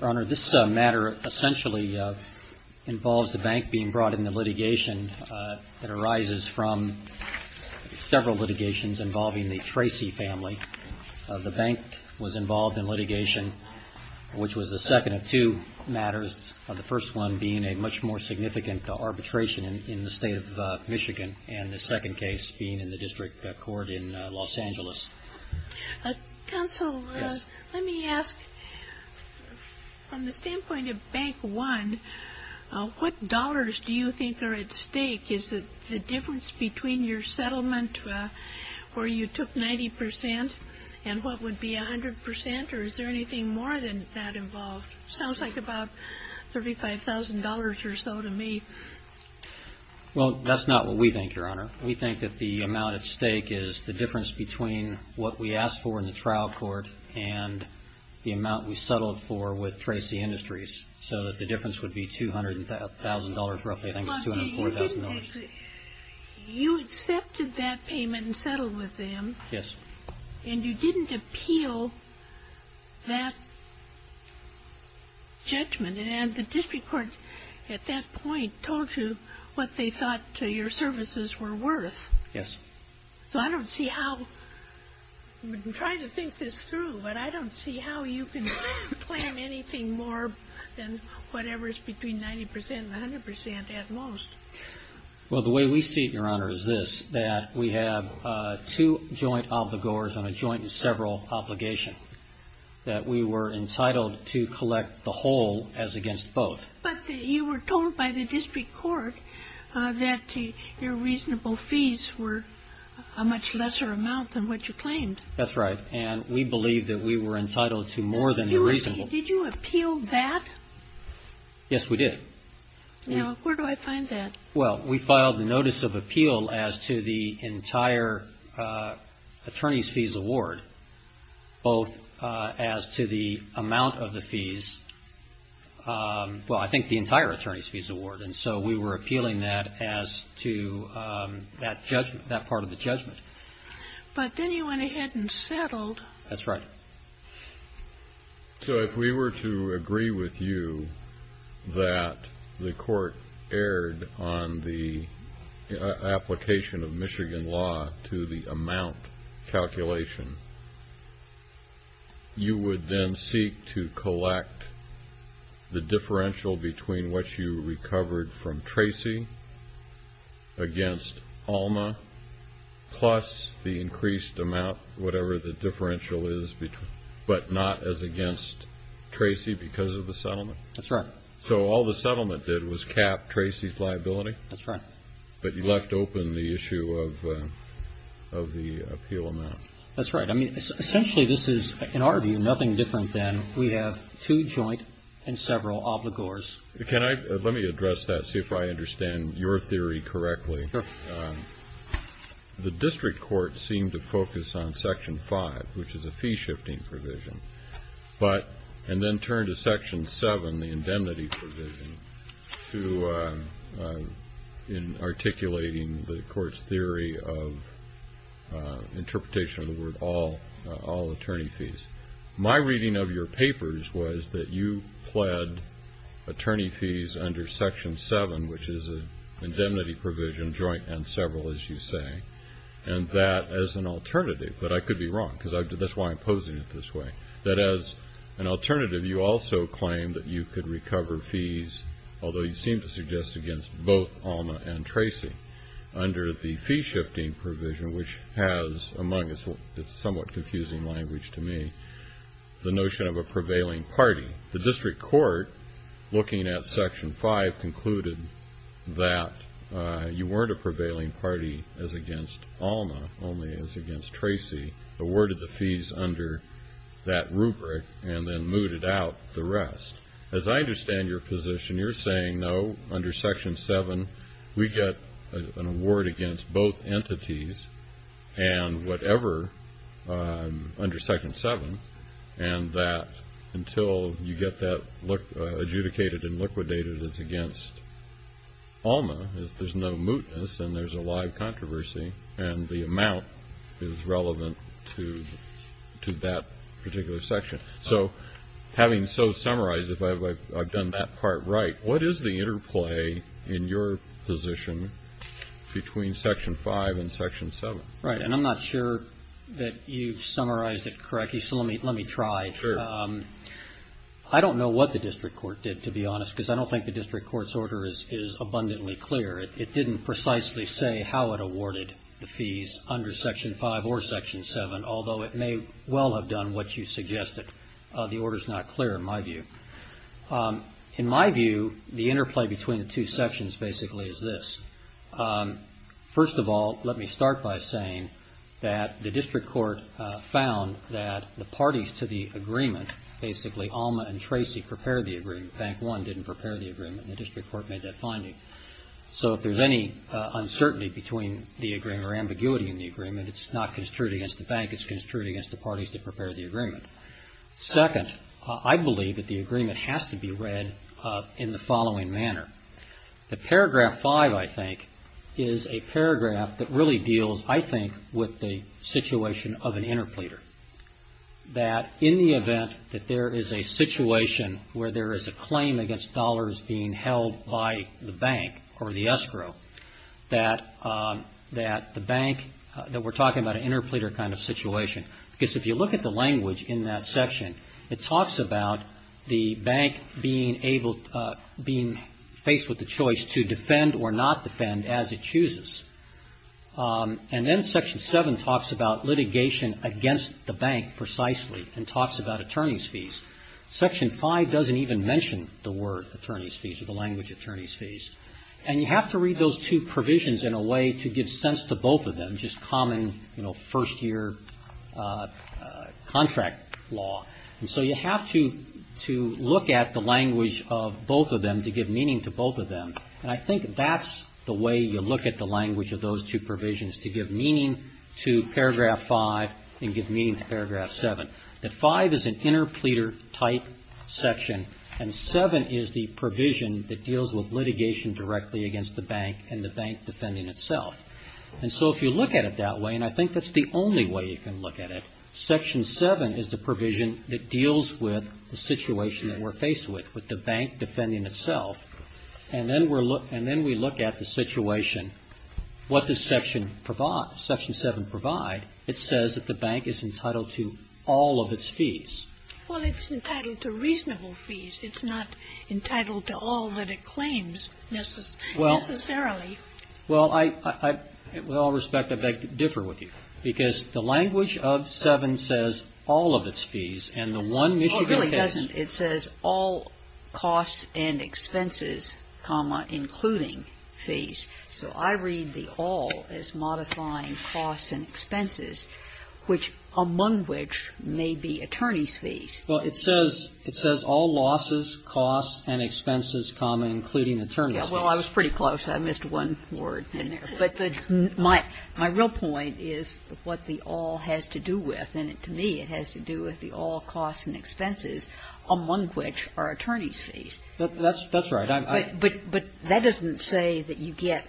Your Honor, this matter essentially involves the bank being brought into litigation. It arises from several litigations involving the Tracy family. The bank was involved in litigation, which was the second of two matters, the first one being a much more significant arbitration in the state of Michigan and the second case being in the district court in Los Angeles. Counsel, let me ask, from the standpoint of Bank One, what dollars do you think are at stake? Is it the difference between your settlement where you took 90% and what would be 100% or is there anything more than that involved? It sounds like about $35,000 or so to me. Well, that's not what we think, Your Honor. We think that the amount at stake is the difference between what we asked for in the trial court and the amount we settled for with Tracy Industries. So the difference would be $200,000, roughly. I think it's $204,000. You accepted that payment and settled with them. Yes. And you didn't appeal that judgment. And the district court at that point told you what they thought your services were worth. Yes. So I don't see how, I'm trying to think this through, but I don't see how you can claim anything more than whatever is between 90% and 100% at most. Well, the way we see it, Your Honor, is this, that we have two joint obligors on a joint and several obligation, that we were entitled to collect the whole as against both. But you were told by the district court that your reasonable fees were a much lesser amount than what you claimed. That's right. And we believe that we were entitled to more than the reasonable. Did you appeal that? Yes, we did. Now, where do I find that? Well, we filed the notice of appeal as to the entire attorney's fees award, both as to the amount of the fees. Well, I think the entire attorney's fees award. And so we were appealing that as to that judgment, that part of the judgment. But then you went ahead and settled. That's right. So if we were to agree with you that the court erred on the application of Michigan law to the amount calculation, you would then seek to collect the differential between what you recovered from Tracy against Alma, plus the increased amount, whatever the differential is, but not as against Tracy because of the settlement? That's right. So all the settlement did was cap Tracy's liability? That's right. But you left open the issue of the appeal amount. That's right. I mean, essentially this is, in our view, nothing different than we have two joint and several obligors. Can I – let me address that, see if I understand your theory correctly. Sure. The district court seemed to focus on Section 5, which is a fee-shifting provision, and then turned to Section 7, the indemnity provision, in articulating the court's theory of interpretation of the word all attorney fees. My reading of your papers was that you pled attorney fees under Section 7, which is an indemnity provision, joint and several, as you say, and that as an alternative. But I could be wrong because that's why I'm posing it this way. That as an alternative, you also claim that you could recover fees, although you seem to suggest against both Alma and Tracy, under the fee-shifting provision, which has among its somewhat confusing language to me the notion of a prevailing party. The district court, looking at Section 5, concluded that you weren't a prevailing party as against Alma, only as against Tracy, awarded the fees under that rubric and then mooted out the rest. As I understand your position, you're saying, no, under Section 7, we get an award against both entities and whatever under Section 7, and that until you get that adjudicated and liquidated as against Alma, there's no mootness and there's a live controversy, and the amount is relevant to that particular section. So having so summarized, if I've done that part right, what is the interplay in your position between Section 5 and Section 7? Right. And I'm not sure that you've summarized it correctly, so let me try. Sure. I don't know what the district court did, to be honest, because I don't think the district court's order is abundantly clear. It didn't precisely say how it awarded the fees under Section 5 or Section 7, although it may well have done what you suggested. The order's not clear, in my view. In my view, the interplay between the two sections basically is this. First of all, let me start by saying that the district court found that the parties to the agreement, basically Alma and Tracy prepared the agreement, Bank 1 didn't prepare the agreement, and the district court made that finding. So if there's any uncertainty between the agreement or ambiguity in the agreement, it's not construed against the bank. It's construed against the parties that prepared the agreement. Second, I believe that the agreement has to be read in the following manner. The paragraph 5, I think, is a paragraph that really deals, I think, with the situation of an interpleader, that in the event that there is a situation where there is a claim against dollars being held by the bank or the escrow, that the bank, that we're talking about an interpleader kind of situation, because if you look at the language in that section, it talks about the bank being faced with the choice to defend or not defend as it chooses. And then Section 7 talks about litigation against the bank precisely and talks about attorney's fees. Section 5 doesn't even mention the word attorney's fees or the language attorney's fees. And you have to read those two provisions in a way to give sense to both of them, which is common, you know, first-year contract law. And so you have to look at the language of both of them to give meaning to both of them. And I think that's the way you look at the language of those two provisions, to give meaning to paragraph 5 and give meaning to paragraph 7. That 5 is an interpleader-type section, and 7 is the provision that deals with litigation directly against the bank and the bank defending itself. And so if you look at it that way, and I think that's the only way you can look at it, Section 7 is the provision that deals with the situation that we're faced with, with the bank defending itself. And then we look at the situation. What does Section 7 provide? It says that the bank is entitled to all of its fees. Well, it's entitled to reasonable fees. It's not entitled to all that it claims necessarily. Well, I, with all respect, I beg to differ with you, because the language of 7 says all of its fees, and the one Michigan case. No, it really doesn't. It says all costs and expenses, comma, including fees. So I read the all as modifying costs and expenses, which among which may be attorney's fees. Well, it says all losses, costs, and expenses, comma, including attorney's fees. Well, I was pretty close. I missed one word in there. But my real point is what the all has to do with, and to me it has to do with the all costs and expenses, among which are attorney's fees. That's right. But that doesn't say that you get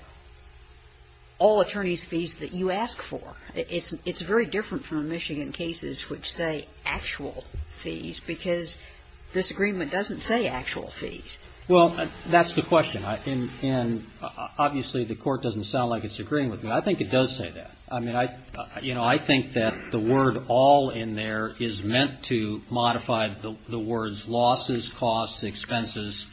all attorney's fees that you ask for. It's very different from Michigan cases which say actual fees, because this agreement doesn't say actual fees. Well, that's the question. And obviously the Court doesn't sound like it's agreeing with me. I think it does say that. I mean, I, you know, I think that the word all in there is meant to modify the words losses, costs, expenses,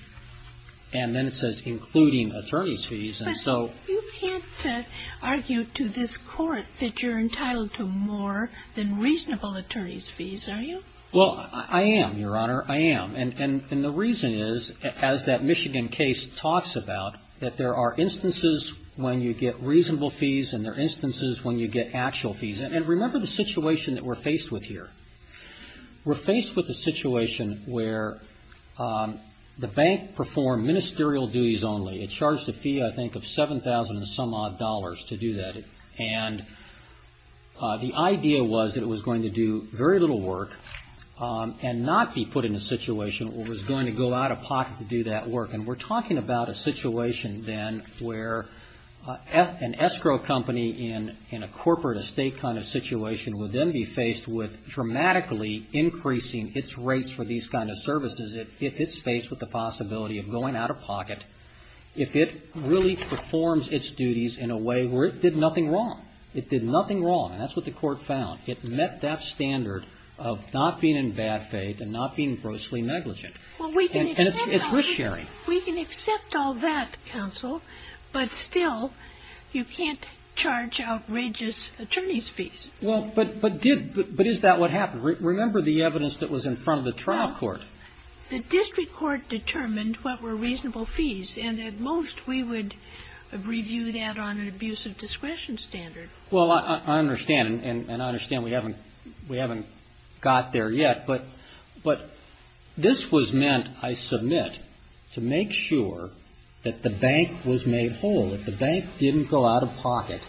and then it says including attorney's fees. And so you can't argue to this Court that you're entitled to more than reasonable attorney's fees, are you? Well, I am, Your Honor. I am. And the reason is, as that Michigan case talks about, that there are instances when you get reasonable fees and there are instances when you get actual fees. And remember the situation that we're faced with here. We're faced with a situation where the bank performed ministerial duties only. It charged a fee, I think, of $7,000 and some odd dollars to do that. And the idea was that it was going to do very little work and not be put in a situation where it was going to go out of pocket to do that work. And we're talking about a situation then where an escrow company in a corporate estate kind of situation would then be faced with dramatically increasing its rates for these kind of services if it's faced with the possibility of going out of pocket. If it really performs its duties in a way where it did nothing wrong. It did nothing wrong. And that's what the Court found. It met that standard of not being in bad faith and not being grossly negligent. And it's risk-sharing. We can accept all that, counsel, but still you can't charge outrageous attorney's fees. But is that what happened? Remember the evidence that was in front of the trial court. The district court determined what were reasonable fees. And at most we would review that on an abuse of discretion standard. Well, I understand. And I understand we haven't got there yet. But this was meant, I submit, to make sure that the bank was made whole, that the bank didn't go out of pocket,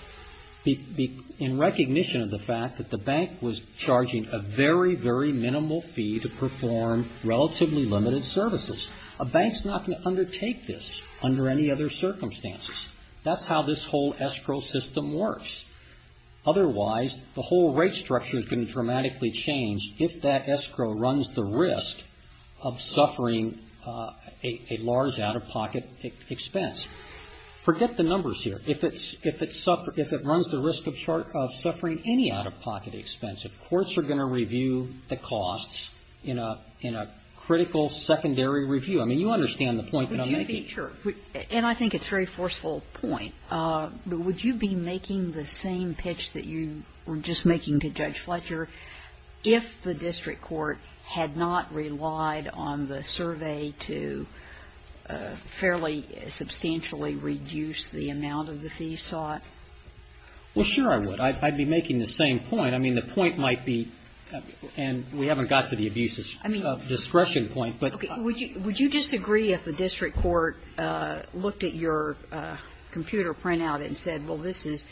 in recognition of the fact that the bank was charging a very, very minimal fee to perform relatively limited services. A bank's not going to undertake this under any other circumstances. That's how this whole escrow system works. Otherwise, the whole rate structure is going to dramatically change if that escrow runs the risk of suffering a large out-of-pocket expense. Forget the numbers here. If it runs the risk of suffering any out-of-pocket expense, if courts are going to review the costs in a critical secondary review, I mean, you understand the point that I'm making. And I think it's a very forceful point. Would you be making the same pitch that you were just making to Judge Fletcher if the district court had not relied on the survey to fairly substantially reduce the amount of the fee sought? Well, sure I would. I'd be making the same point. I mean, the point might be, and we haven't got to the abuse of discretion point. Okay. Would you disagree if the district court looked at your computer printout and said, well, this is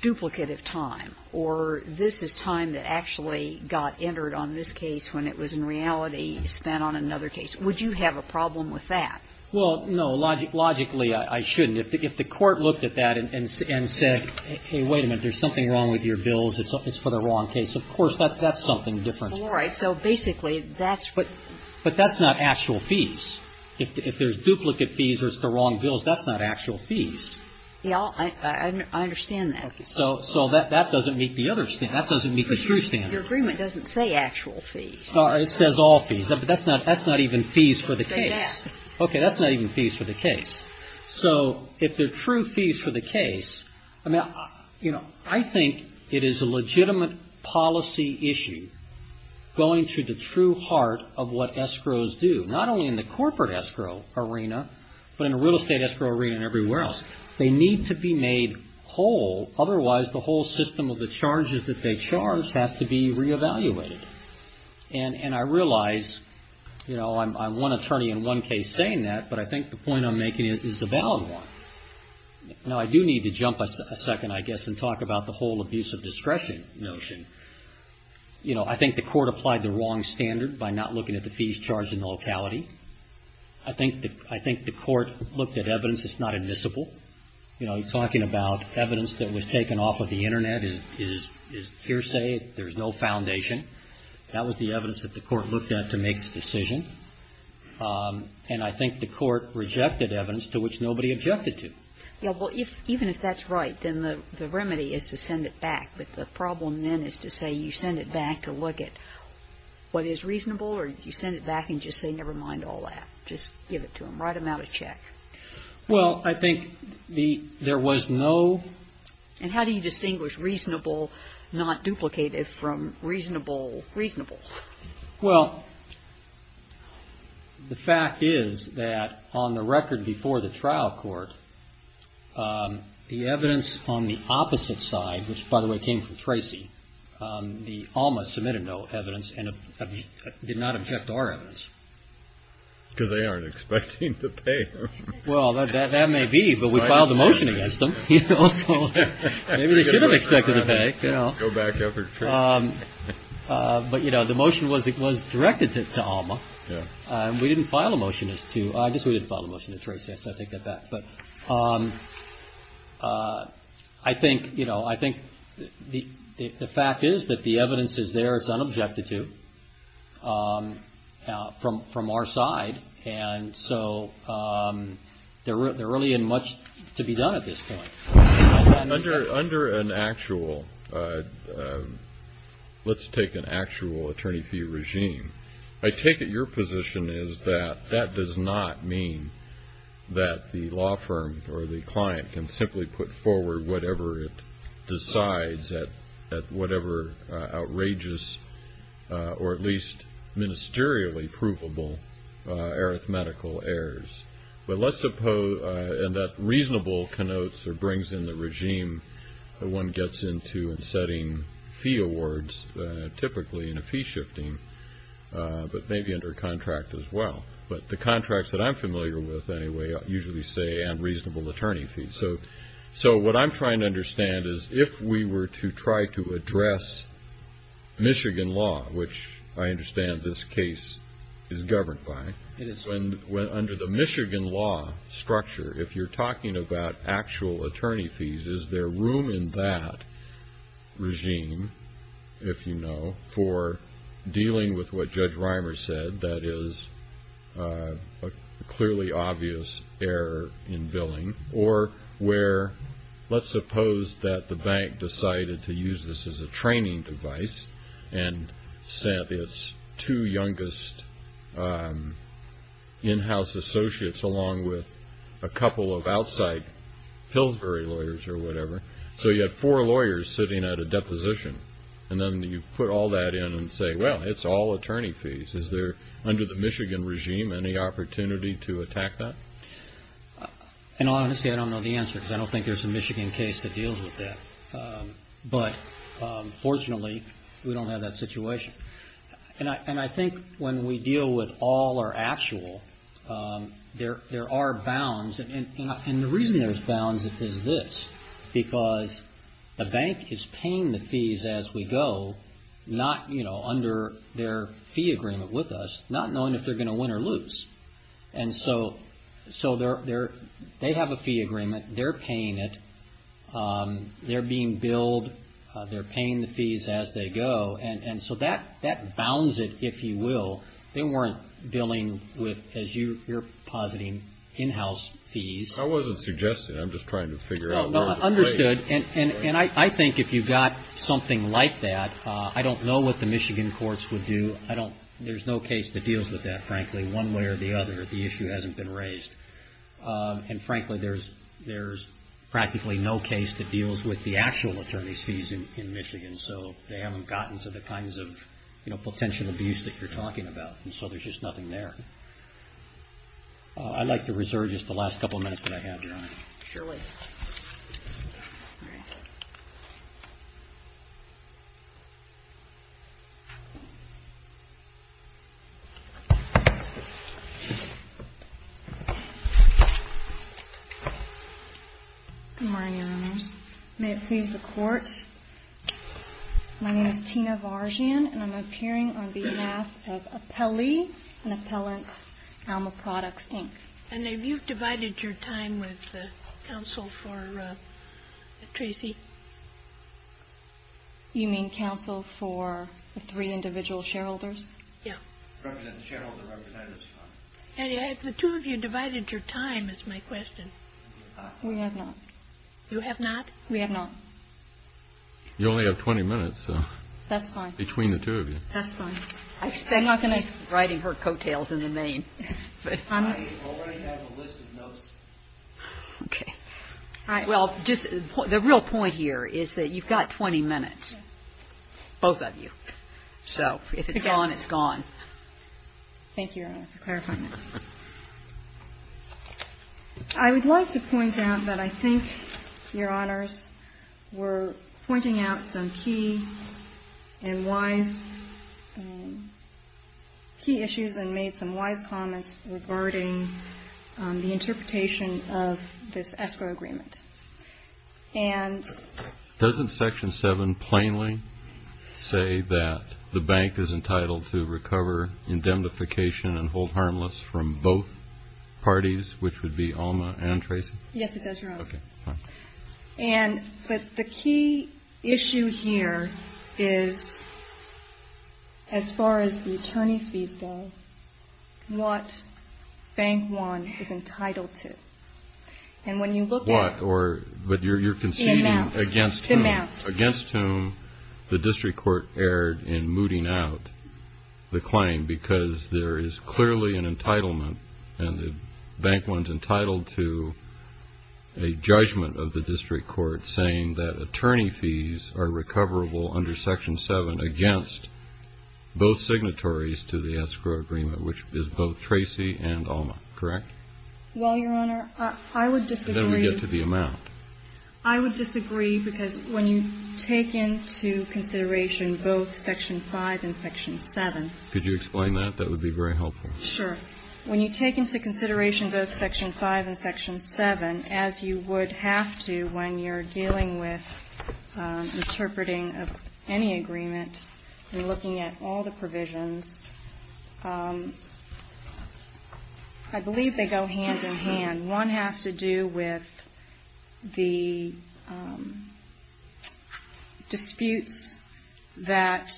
duplicate of time, or this is time that actually got entered on this case when it was in reality spent on another case? Would you have a problem with that? Well, no. Logically, I shouldn't. If the court looked at that and said, hey, wait a minute. There's something wrong with your bills. It's for the wrong case. Of course, that's something different. All right. So basically, that's what you're saying. But that's not actual fees. If there's duplicate fees or it's the wrong bills, that's not actual fees. Yeah. I understand that. So that doesn't meet the other standard. That doesn't meet the true standard. Your agreement doesn't say actual fees. It says all fees. That's not even fees for the case. Okay. That's not even fees for the case. So if they're true fees for the case, I mean, you know, I think it is a legitimate policy issue going to the true heart of what escrows do, not only in the corporate escrow arena, but in the real estate escrow arena and everywhere else. They need to be made whole. Otherwise, the whole system of the charges that they charge has to be re-evaluated. And I realize, you know, I'm one attorney in one case saying that, but I think the point I'm making is a valid one. Now, I do need to jump a second, I guess, and talk about the whole abuse of discretion notion. You know, I think the court applied the wrong standard by not looking at the fees charged in the locality. I think the court looked at evidence that's not admissible. You know, talking about evidence that was taken off of the Internet is hearsay. There's no foundation. That was the evidence that the court looked at to make the decision. And I think the court rejected evidence to which nobody objected to. Yeah, well, even if that's right, then the remedy is to send it back. But the problem then is to say you send it back to look at what is reasonable or you send it back and just say, never mind all that. Just give it to them. Write them out a check. Well, I think there was no ---- And how do you distinguish reasonable not duplicated from reasonable reasonable? Well, the fact is that on the record before the trial court, the evidence on the opposite side, which, by the way, came from Tracy, the Alma submitted no evidence and did not object to our evidence. Because they aren't expecting to pay. Well, that may be, but we filed a motion against them. So maybe they should have expected to pay. Go back up to Tracy. But, you know, the motion was directed to Alma. We didn't file a motion to, I guess we didn't file a motion to Tracy. I take that back. But I think, you know, I think the fact is that the evidence is there. It's unobjected to from our side. And so there really isn't much to be done at this point. Under an actual, let's take an actual attorney fee regime, I take it your position is that that does not mean that the law firm or the client can simply put forward whatever it decides at whatever outrageous or at least ministerially provable arithmetical errors. But let's suppose that reasonable connotes or brings in the regime that one gets into in setting fee awards, typically in a fee shifting, but maybe under contract as well. But the contracts that I'm familiar with, anyway, usually say unreasonable attorney fees. So what I'm trying to understand is if we were to try to address Michigan law, which I understand this case is governed by, under the Michigan law structure, if you're talking about actual attorney fees, is there room in that regime, if you know, for dealing with what Judge Reimer said, that is a clearly obvious error in billing, or where let's suppose that the bank decided to use this as a training device and sent its two youngest in-house associates along with a couple of outside Pillsbury lawyers or whatever. So you had four lawyers sitting at a deposition, and then you put all that in and say, well, it's all attorney fees. Is there, under the Michigan regime, any opportunity to attack that? And honestly, I don't know the answer, because I don't think there's a Michigan case that deals with that. But fortunately, we don't have that situation. And I think when we deal with all our actual, there are bounds. And the reason there's bounds is this, because the bank is paying the fees as we go, not, you know, under their fee agreement with us, not knowing if they're going to win or lose. And so they have a fee agreement. They're paying it. They're being billed. They're paying the fees as they go. And so that bounds it, if you will. They weren't billing with, as you're positing, in-house fees. I wasn't suggesting. I'm just trying to figure out where the money is. No, understood. And I think if you've got something like that, I don't know what the Michigan courts would do. I don't, there's no case that deals with that, frankly, one way or the other. The issue hasn't been raised. And frankly, there's practically no case that deals with the actual attorney's fees in Michigan. So they haven't gotten to the kinds of, you know, potential abuse that you're talking about. And so there's just nothing there. I'd like to reserve just the last couple of minutes that I have, Your Honor. Surely. All right. Good morning, Your Honors. May it please the Court, my name is Tina Varjian, and I'm appearing on behalf of Appelli and Appellant Alma Products, Inc. And have you divided your time with the counsel for Tracy? You mean counsel for the three individual shareholders? Yeah. And have the two of you divided your time, is my question. We have not. You have not? We have not. You only have 20 minutes. That's fine. Between the two of you. That's fine. I'm not going to be writing her coattails in the main. I already have a list of notes. Okay. Well, just the real point here is that you've got 20 minutes, both of you. So if it's gone, it's gone. Thank you, Your Honor, for clarifying that. I would like to point out that I think, Your Honors, we're pointing out some key and wise key issues and made some wise comments regarding the interpretation of this escrow agreement. And doesn't Section 7 plainly say that the bank is entitled to recover indemnification and hold harmless from both parties, which would be Alma and Tracy? Yes, it does, Your Honor. Okay. And the key issue here is, as far as the attorney's fees go, what Bank One is entitled to. And when you look at the amount. But you're conceding against whom the district court erred in mooting out the claim because there is clearly an entitlement and the Bank One's entitled to a judgment of the district court saying that attorney fees are recoverable under Section 7 against both signatories to the escrow agreement, which is both Tracy and Alma. Correct? Well, Your Honor, I would disagree. And then we get to the amount. I would disagree because when you take into consideration both Section 5 and Section 7. Could you explain that? That would be very helpful. Sure. When you take into consideration both Section 5 and Section 7, as you would have to when you're dealing with interpreting of any agreement and looking at all the provisions, I believe they go hand in hand. One has to do with the disputes that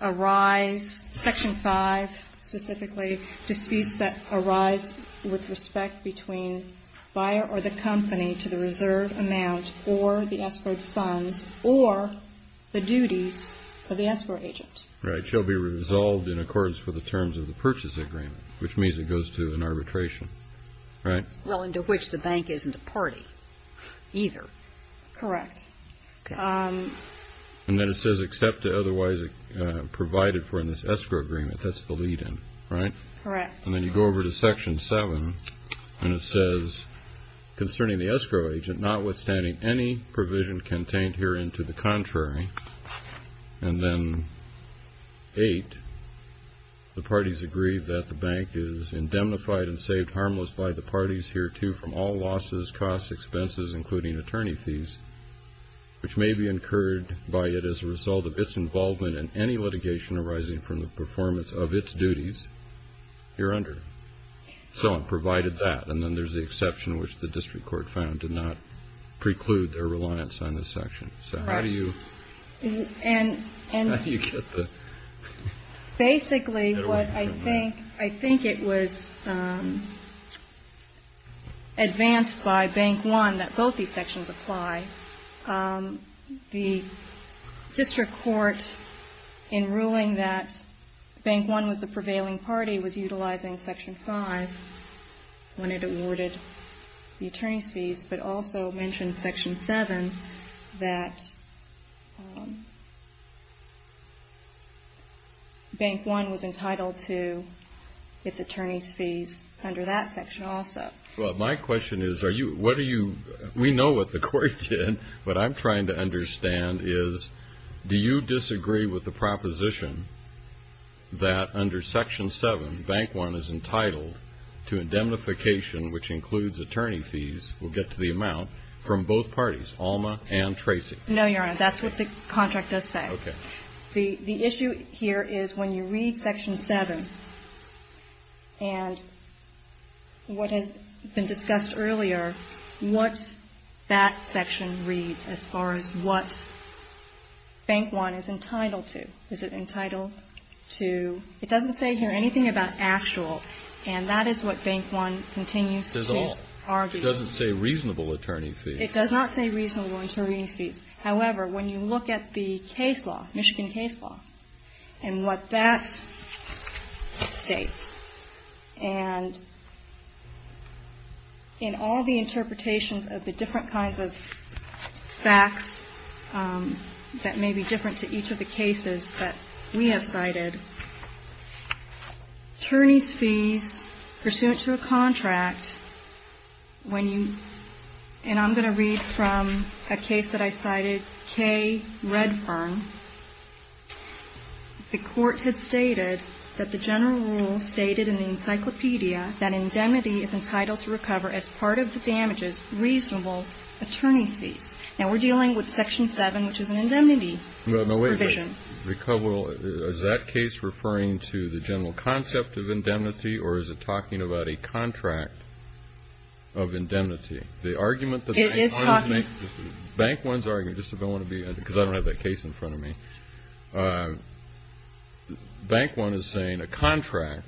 arise, Section 5 specifically, disputes that arise with respect between buyer or the company to the reserve amount or the escrowed funds or the duties of the escrow agent. Right. Shall be resolved in accordance with the terms of the purchase agreement, which means it goes to an arbitration. Right? Well, and to which the bank isn't a party either. Correct. And then it says except to otherwise provided for in this escrow agreement. That's the lead-in. Right? Correct. And then you go over to Section 7, and it says, concerning the escrow agent notwithstanding any provision contained herein to the contrary, and then 8, the parties agree that the bank is indemnified and saved harmless by the parties hereto from all losses, costs, expenses, including attorney fees, which may be incurred by it as a result of its involvement in any litigation arising from the performance of its duties hereunder. So provided that, and then there's the exception, which the district court found did not preclude their reliance on this section. So how do you get the ---- Basically what I think, I think it was advanced by Bank 1 that both these sections apply. The district court, in ruling that Bank 1 was the prevailing party, was utilizing Section 5 when it awarded the attorney's fees, but also mentioned Section 7 that Bank 1 was entitled to its attorney's fees under that section also. Well, my question is, are you, what are you, we know what the court did, but I'm trying to understand is, do you disagree with the proposition that under Section 7, Bank 1 is entitled to indemnification, which includes attorney fees, we'll get to the amount, from both parties, Alma and Tracy? No, Your Honor. That's what the contract does say. Okay. The issue here is when you read Section 7, and what has been discussed earlier, what that section reads as far as what Bank 1 is entitled to. Is it entitled to, it doesn't say here anything about actual, and that is what Bank 1 continues to argue. It doesn't say reasonable attorney fees. It does not say reasonable attorney fees. However, when you look at the case law, Michigan case law, and what that states, and in all the interpretations of the different kinds of facts that may be different to each of the cases that we have cited, attorney's fees pursuant to a contract, when you, and I'm going to read from a case that I cited, K. Redfern. The court had stated that the general rule stated in the encyclopedia that indemnity is entitled to recover as part of the damages reasonable attorney's fees. Now, we're dealing with Section 7, which is an indemnity provision. Is that case referring to the general concept of indemnity, or is it talking about a contract of indemnity? It is talking. Bank 1's argument, just because I don't have that case in front of me, Bank 1 is saying a contract,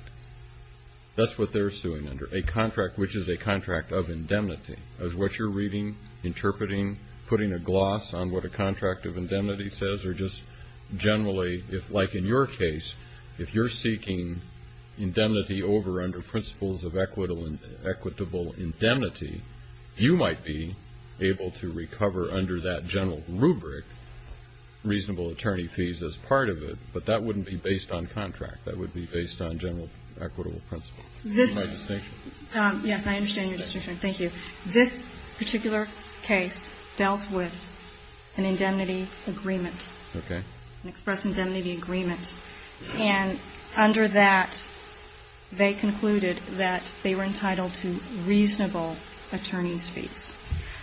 that's what they're suing under, a contract which is a contract of indemnity. Is what you're reading, interpreting, putting a gloss on what a contract of indemnity says, or just generally, like in your case, if you're seeking indemnity over under principles of equitable indemnity, you might be able to recover under that general rubric reasonable attorney fees as part of it, but that wouldn't be based on contract. That would be based on general equitable principle. Yes, I understand your distinction. Thank you. This particular case dealt with an indemnity agreement. Okay. An express indemnity agreement. And under that, they concluded that they were entitled to reasonable attorney's fees.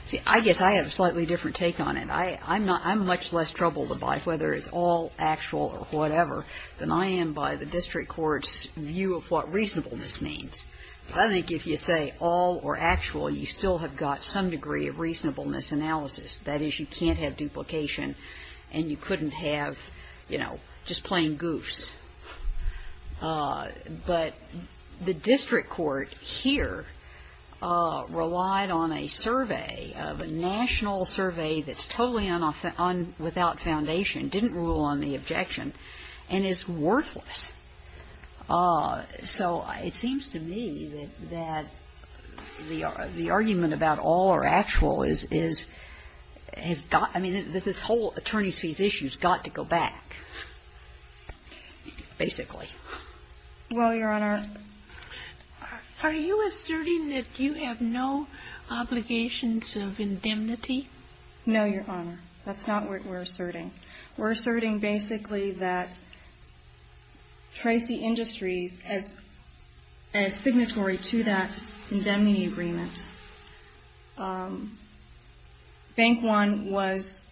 See, I guess I have a slightly different take on it. I'm not – I'm much less troubled about whether it's all actual or whatever than I am by the district court's view of what reasonableness means. I think if you say all or actual, you still have got some degree of reasonableness analysis. That is, you can't have duplication and you couldn't have, you know, just plain goofs. But the district court here relied on a survey, a national survey that's totally without foundation, didn't rule on the objection, and is worthless. So it seems to me that the argument about all or actual is – has got – I mean, this whole attorney's fees issue has got to go back, basically. Well, Your Honor, are you asserting that you have no obligations of indemnity? No, Your Honor. That's not what we're asserting. We're asserting basically that Tracy Industries, as signatory to that indemnity agreement, Bank One was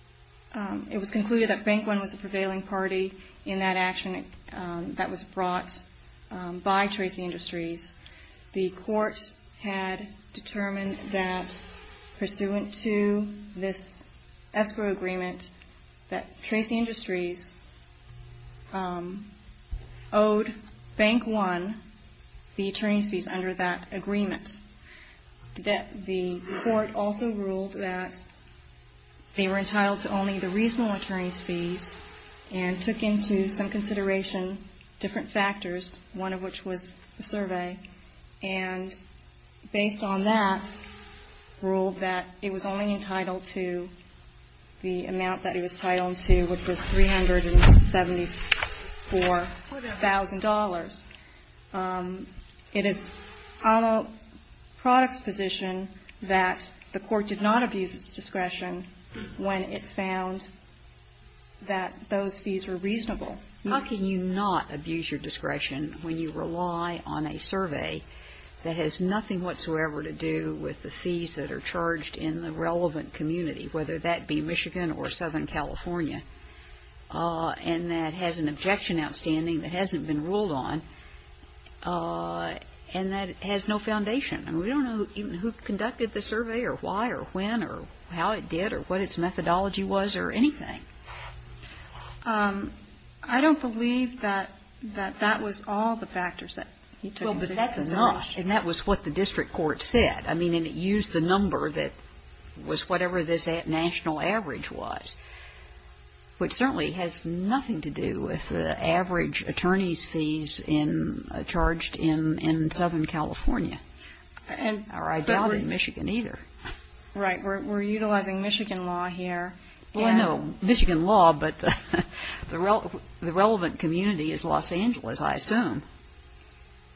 – it was concluded that Bank One was the prevailing party in that action that was brought by Tracy Industries. The court had determined that, pursuant to this escrow agreement, that Tracy Industries owed Bank One the attorney's fees under that agreement. That the court also ruled that they were entitled to only the reasonable attorney's fees and took into some consideration different factors, one of which was the survey. And based on that, ruled that it was only entitled to the amount that it was entitled to, which was $374,000. It is out of product's position that the court did not abuse its discretion when it found that those fees were reasonable. How can you not abuse your discretion when you rely on a survey that has nothing whatsoever to do with the fees that are charged in the relevant community, whether that be Michigan or Southern California, and that has an objection outstanding that hasn't been ruled on and that has no foundation? I mean, we don't know who conducted the survey or why or when or how it did or what its methodology was or anything. I don't believe that that was all the factors that he took into consideration. Well, but that's enough. And that was what the district court said. I mean, and it used the number that was whatever this national average was, which certainly has nothing to do with the average attorney's fees charged in Southern California, or I doubt in Michigan either. Right. We're utilizing Michigan law here. Well, no, Michigan law, but the relevant community is Los Angeles, I assume.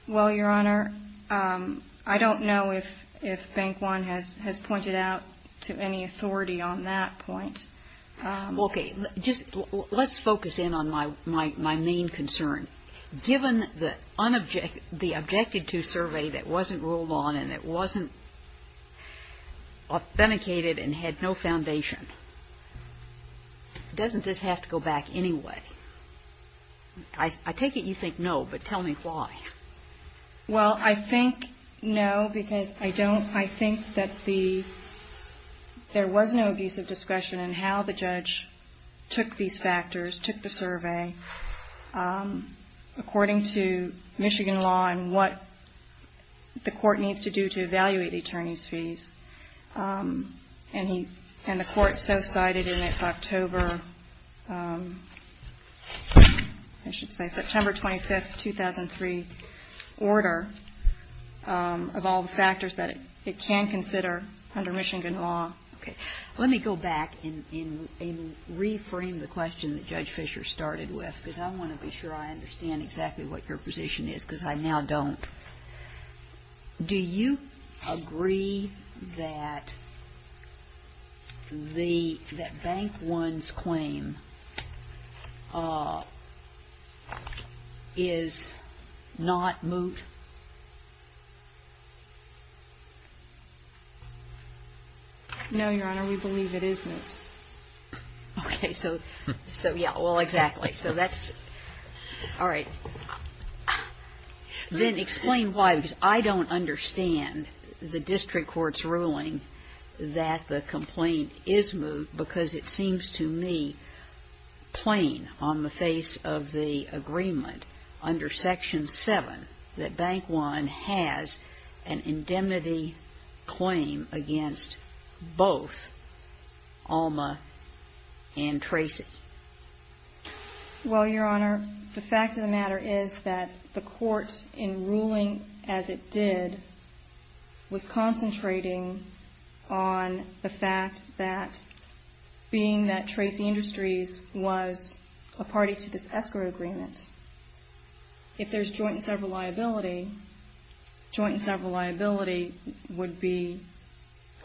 Well, Your Honor, I don't know if Bank One has pointed out to any authority on that point. Okay. Just let's focus in on my main concern. Given the objected-to survey that wasn't ruled on and it wasn't authenticated and had no foundation, doesn't this have to go back anyway? I take it you think no, but tell me why. Well, I think no, because I don't, I think that the, there was no abuse of discretion in how the judge took these factors, took the survey according to Michigan law and what the court needs to do to evaluate the attorney's fees. And the court so cited in its October, I should say September 25th, 2003, order of all the factors that it can consider under Michigan law. Okay. Let me go back and reframe the question that Judge Fisher started with, because I want to be sure I understand exactly what your position is, because I now don't. Do you agree that Bank One's claim is not moot? No, Your Honor, we believe it is moot. Okay. So, yeah, well, exactly. So that's, all right. Then explain why, because I don't understand the district court's ruling that the complaint is moot, because it seems to me plain on the face of the agreement under Section 7 that Bank One has an indemnity claim against both Alma and Tracy. Well, Your Honor, the fact of the matter is that the court, in ruling as it did, was concentrating on the fact that being that Tracy Industries was a party to this escrow agreement, if there's joint and several liability, joint and several liability would be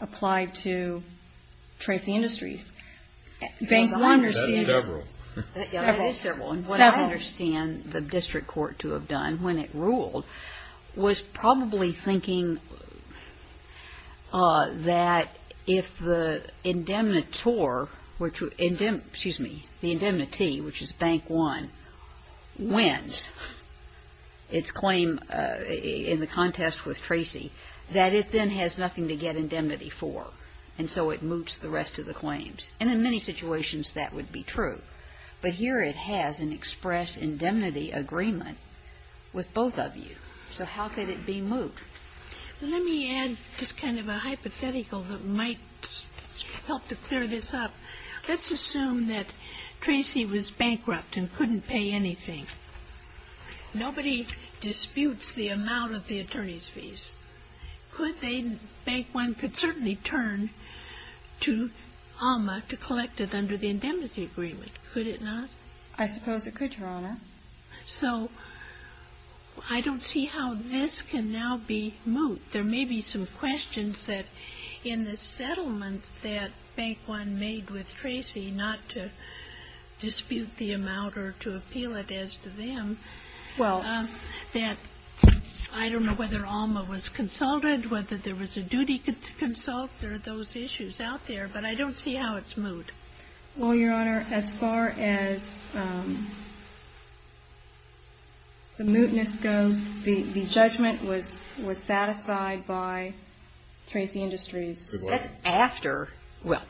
applied to Tracy Industries. That is several. That is several. And what I understand the district court to have done when it ruled was probably thinking that if the indemnitor, excuse me, the indemnity, which is Bank One, wins its claim in the contest with Tracy, that it then has nothing to get indemnity for. And so it moots the rest of the claims. And in many situations that would be true. But here it has an express indemnity agreement with both of you. So how could it be moot? Let me add just kind of a hypothetical that might help to clear this up. Let's assume that Tracy was bankrupt and couldn't pay anything. Nobody disputes the amount of the attorney's fees. Could they, Bank One could certainly turn to Alma to collect it under the indemnity agreement. Could it not? I suppose it could, Your Honor. So I don't see how this can now be moot. There may be some questions that in the settlement that Bank One made with Tracy, not to dispute the amount or to appeal it as to them, that I don't know whether Alma was consulted, whether there was a duty to consult. There are those issues out there. But I don't see how it's moot. Well, Your Honor, as far as the mootness goes, the judgment was satisfied by Tracy Industries. That's after, well,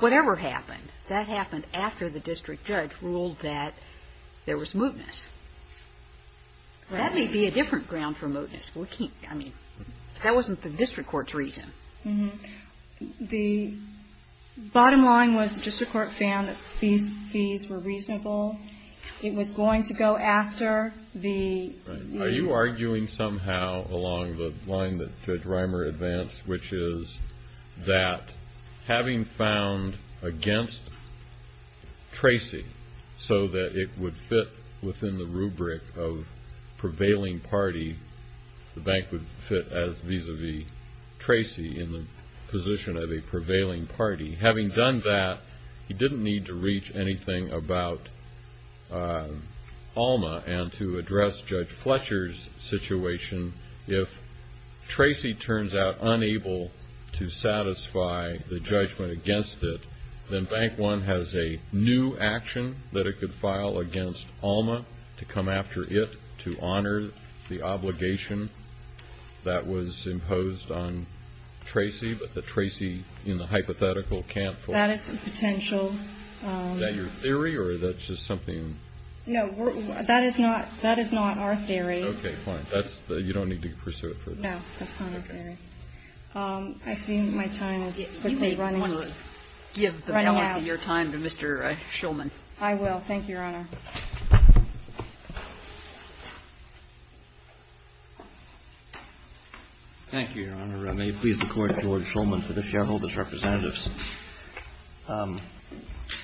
whatever happened, that happened after the district judge ruled that there was mootness. That may be a different ground for mootness. We can't, I mean, that wasn't the district court's reason. The bottom line was the district court found that these fees were reasonable. It was going to go after the moot. Are you arguing somehow along the line that Judge Reimer advanced, which is that having found against Tracy so that it would fit within the rubric of prevailing party, the bank would fit as vis-a-vis Tracy in the position of a prevailing party. Having done that, he didn't need to reach anything about Alma and to address Judge Fletcher's situation. If Tracy turns out unable to satisfy the judgment against it, then Bank One has a new action that it could file against Alma to come after it to honor the obligation that was imposed on Tracy. But the Tracy in the hypothetical can't. That is a potential. Is that your theory or is that just something? No, that is not our theory. Okay, fine. You don't need to pursue it further. No, that's not our theory. I see my time is quickly running out. You may want to give the balance of your time to Mr. Shulman. I will. Thank you, Your Honor. Thank you, Your Honor. May it please the Court, George Shulman for the shareholders' representatives.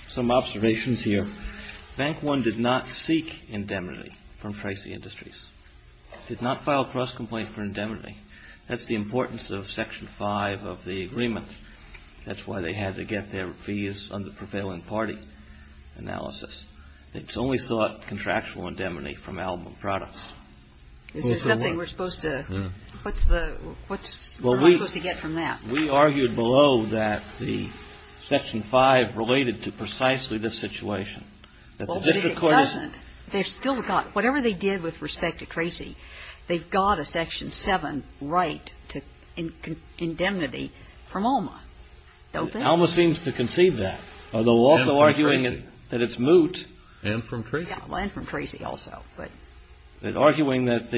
Some observations here. Bank One did not seek indemnity from Tracy Industries. It did not file a cross-complaint for indemnity. That's the importance of Section 5 of the agreement. That's why they had to get their fees under prevailing party analysis. It's only sought contractual indemnity from Alma Products. Is there something we're supposed to get from that? We argued below that the Section 5 related to precisely this situation. It doesn't. Whatever they did with respect to Tracy, they've got a Section 7 right to indemnity from Alma, don't they? Alma seems to conceive that, although also arguing that it's moot. And from Tracy. And from Tracy also. But arguing that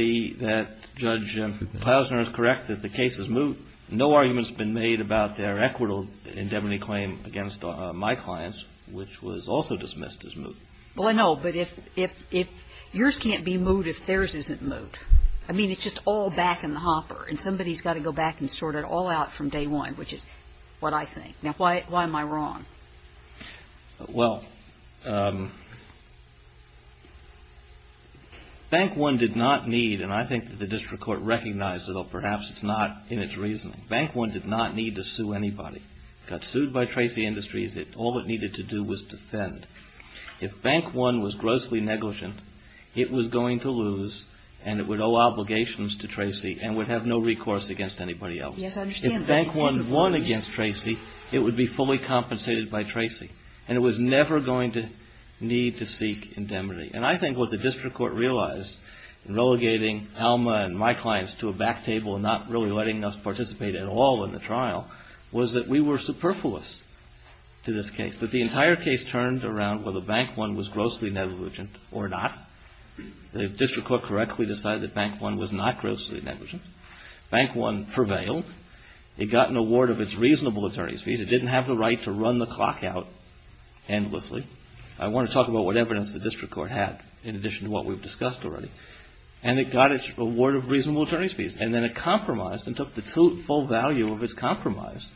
Judge Plowsner is correct, that the case is moot, no argument's been made about their equitable indemnity claim against my clients, which was also dismissed as moot. Well, I know, but if yours can't be moot if theirs isn't moot, I mean, it's just all back in the hopper, and somebody's got to go back and sort it all out from day one, which is what I think. Now, why am I wrong? Well, Bank One did not need, and I think that the district court recognized, although perhaps it's not in its reasoning, Bank One did not need to sue anybody. It got sued by Tracy Industries. All it needed to do was defend. If Bank One was grossly negligent, it was going to lose, and it would owe obligations to Tracy and would have no recourse against anybody else. Yes, I understand. If Bank One won against Tracy, it would be fully compensated by Tracy, and it was never going to need to seek indemnity. And I think what the district court realized in relegating Alma and my clients to a back table and not really letting us participate at all in the trial was that we were superfluous to this case, that the entire case turned around whether Bank One was grossly negligent or not. The district court correctly decided that Bank One was not grossly negligent. Bank One prevailed. It got an award of its reasonable attorney's fees. It didn't have the right to run the clock out endlessly. I want to talk about what evidence the district court had in addition to what we've discussed already. And it got its award of reasonable attorney's fees, and then it compromised and took the full value of its compromise.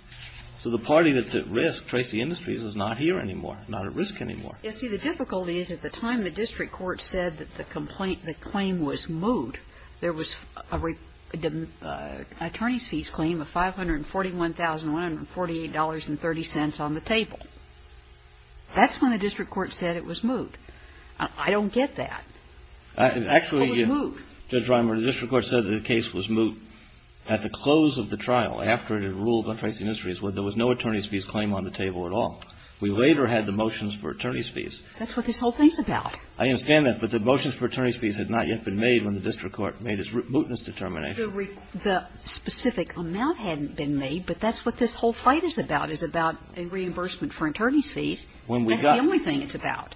So the party that's at risk, Tracy Industries, is not here anymore, not at risk anymore. Yes, see, the difficulty is at the time the district court said that the complaint, the claim was moved, there was an attorney's fees claim of $541,148.30 on the table. That's when the district court said it was moved. I don't get that. It was moved. Actually, Judge Reimer, the district court said that the case was moved at the close of the trial, after it had ruled on Tracy Industries, where there was no attorney's fees claim on the table at all. We later had the motions for attorney's fees. That's what this whole thing's about. I understand that, but the motions for attorney's fees had not yet been made when the district court made its mootness determination. The specific amount hadn't been made, but that's what this whole fight is about, is about a reimbursement for attorney's fees. That's the only thing it's about.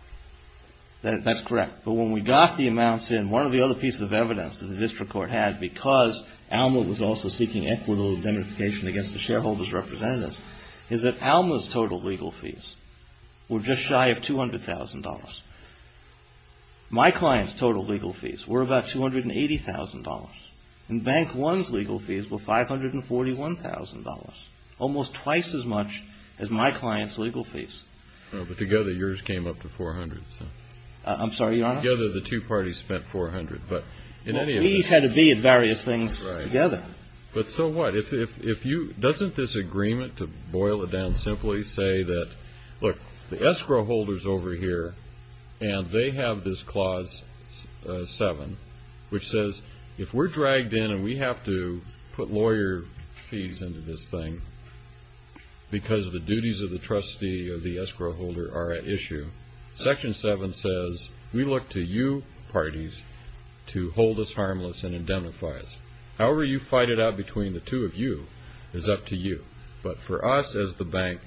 That's correct. But when we got the amounts in, one of the other pieces of evidence that the district court had, because Alma was also seeking equitable indemnification against the shareholders' representatives, is that Alma's total legal fees were just shy of $200,000. My client's total legal fees were about $280,000, and Bank One's legal fees were $541,000, almost twice as much as my client's legal fees. But together, yours came up to $400,000. I'm sorry, Your Honor? Together, the two parties spent $400,000. We had to be at various things together. But so what? Doesn't this agreement, to boil it down simply, say that, look, the escrow holder's over here, and they have this Clause 7, which says if we're dragged in and we have to put lawyer fees into this thing because the duties of the trustee or the escrow holder are at issue, Section 7 says we look to you parties to hold us harmless and indemnify us. However you fight it out between the two of you is up to you. But for us as the bank,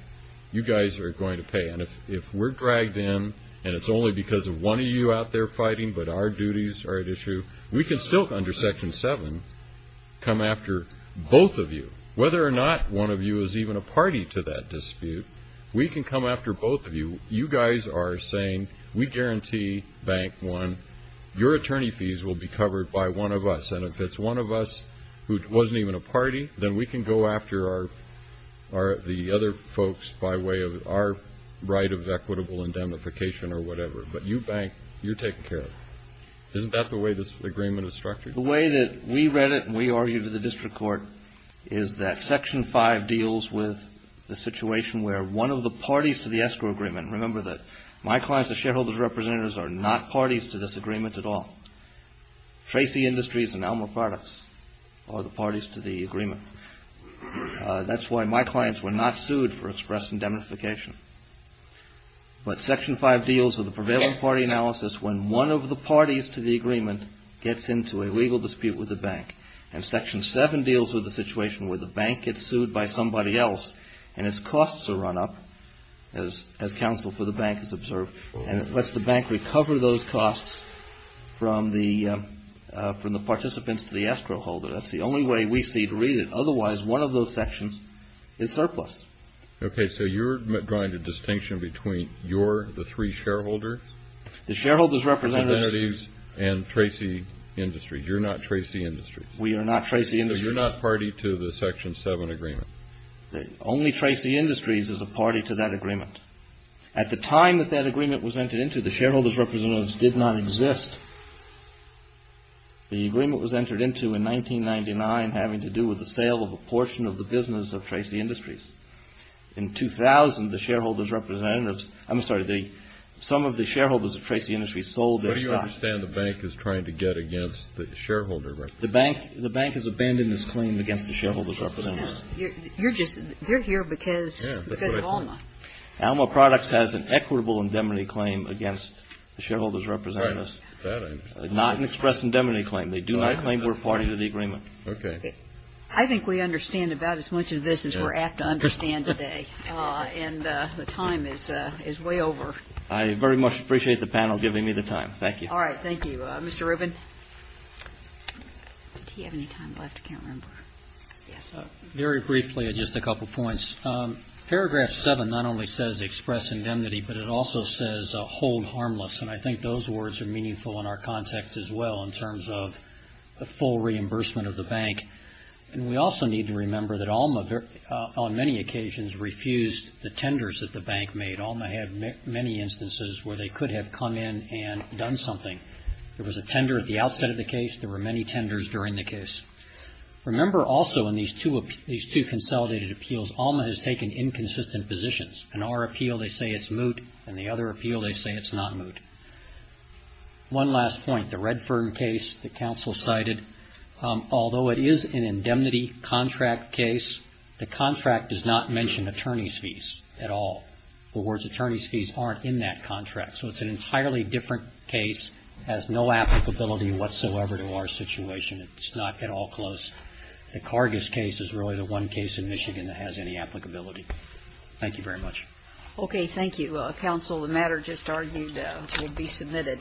you guys are going to pay. And if we're dragged in and it's only because of one of you out there fighting but our duties are at issue, we can still, under Section 7, come after both of you. Whether or not one of you is even a party to that dispute, we can come after both of you. You guys are saying, we guarantee, Bank One, your attorney fees will be covered by one of us. And if it's one of us who wasn't even a party, then we can go after the other folks by way of our right of equitable indemnification or whatever. But you, Bank, you're taking care of it. Isn't that the way this agreement is structured? The way that we read it and we argued to the district court is that Section 5 deals with the situation where one of the parties to the escrow agreement, remember that my clients, the shareholders, the representatives, are not parties to this agreement at all. Tracy Industries and Elmer Products are the parties to the agreement. That's why my clients were not sued for express indemnification. But Section 5 deals with the prevailing party analysis when one of the parties to the agreement gets into a legal dispute with the bank. And Section 7 deals with the situation where the bank gets sued by somebody else and its costs are run up, as counsel for the bank has observed, and it lets the bank recover those costs from the participants to the escrow holder. That's the only way we see to read it. Otherwise, one of those sections is surplus. Okay. So you're drawing a distinction between you're the three shareholders? The shareholders, representatives. Representatives and Tracy Industries. You're not Tracy Industries. We are not Tracy Industries. So you're not party to the Section 7 agreement? Only Tracy Industries is a party to that agreement. At the time that that agreement was entered into, the shareholders' representatives did not exist. The agreement was entered into in 1999 having to do with the sale of a portion of the business of Tracy Industries. In 2000, the shareholders' representatives, I'm sorry, some of the shareholders of Tracy Industries sold their stock. But do you understand the bank is trying to get against the shareholder representatives? The bank has abandoned this claim against the shareholders' representatives. You're here because of Alma. Alma Products has an equitable indemnity claim against the shareholders' representatives. Not an express indemnity claim. They do not claim we're party to the agreement. Okay. I think we understand about as much of this as we're apt to understand today. And the time is way over. I very much appreciate the panel giving me the time. Thank you. All right. Thank you. Mr. Rubin? Did he have any time left? I can't remember. Yes. Very briefly, just a couple points. Paragraph 7 not only says express indemnity, but it also says hold harmless. And I think those words are meaningful in our context as well in terms of the full reimbursement of the bank. And we also need to remember that Alma, on many occasions, refused the tenders that the bank made. Alma had many instances where they could have come in and done something. There was a tender at the outset of the case. There were many tenders during the case. Remember also in these two consolidated appeals, Alma has taken inconsistent positions. In our appeal, they say it's moot. In the other appeal, they say it's not moot. One last point. The Redfern case, the counsel cited, although it is an indemnity contract case, the contract does not mention attorney's fees at all. The words attorney's fees aren't in that contract. So it's an entirely different case, has no applicability whatsoever to our situation. It's not at all close. The Cargus case is really the one case in Michigan that has any applicability. Thank you very much. Okay. Thank you, counsel. The matter just argued will be submitted.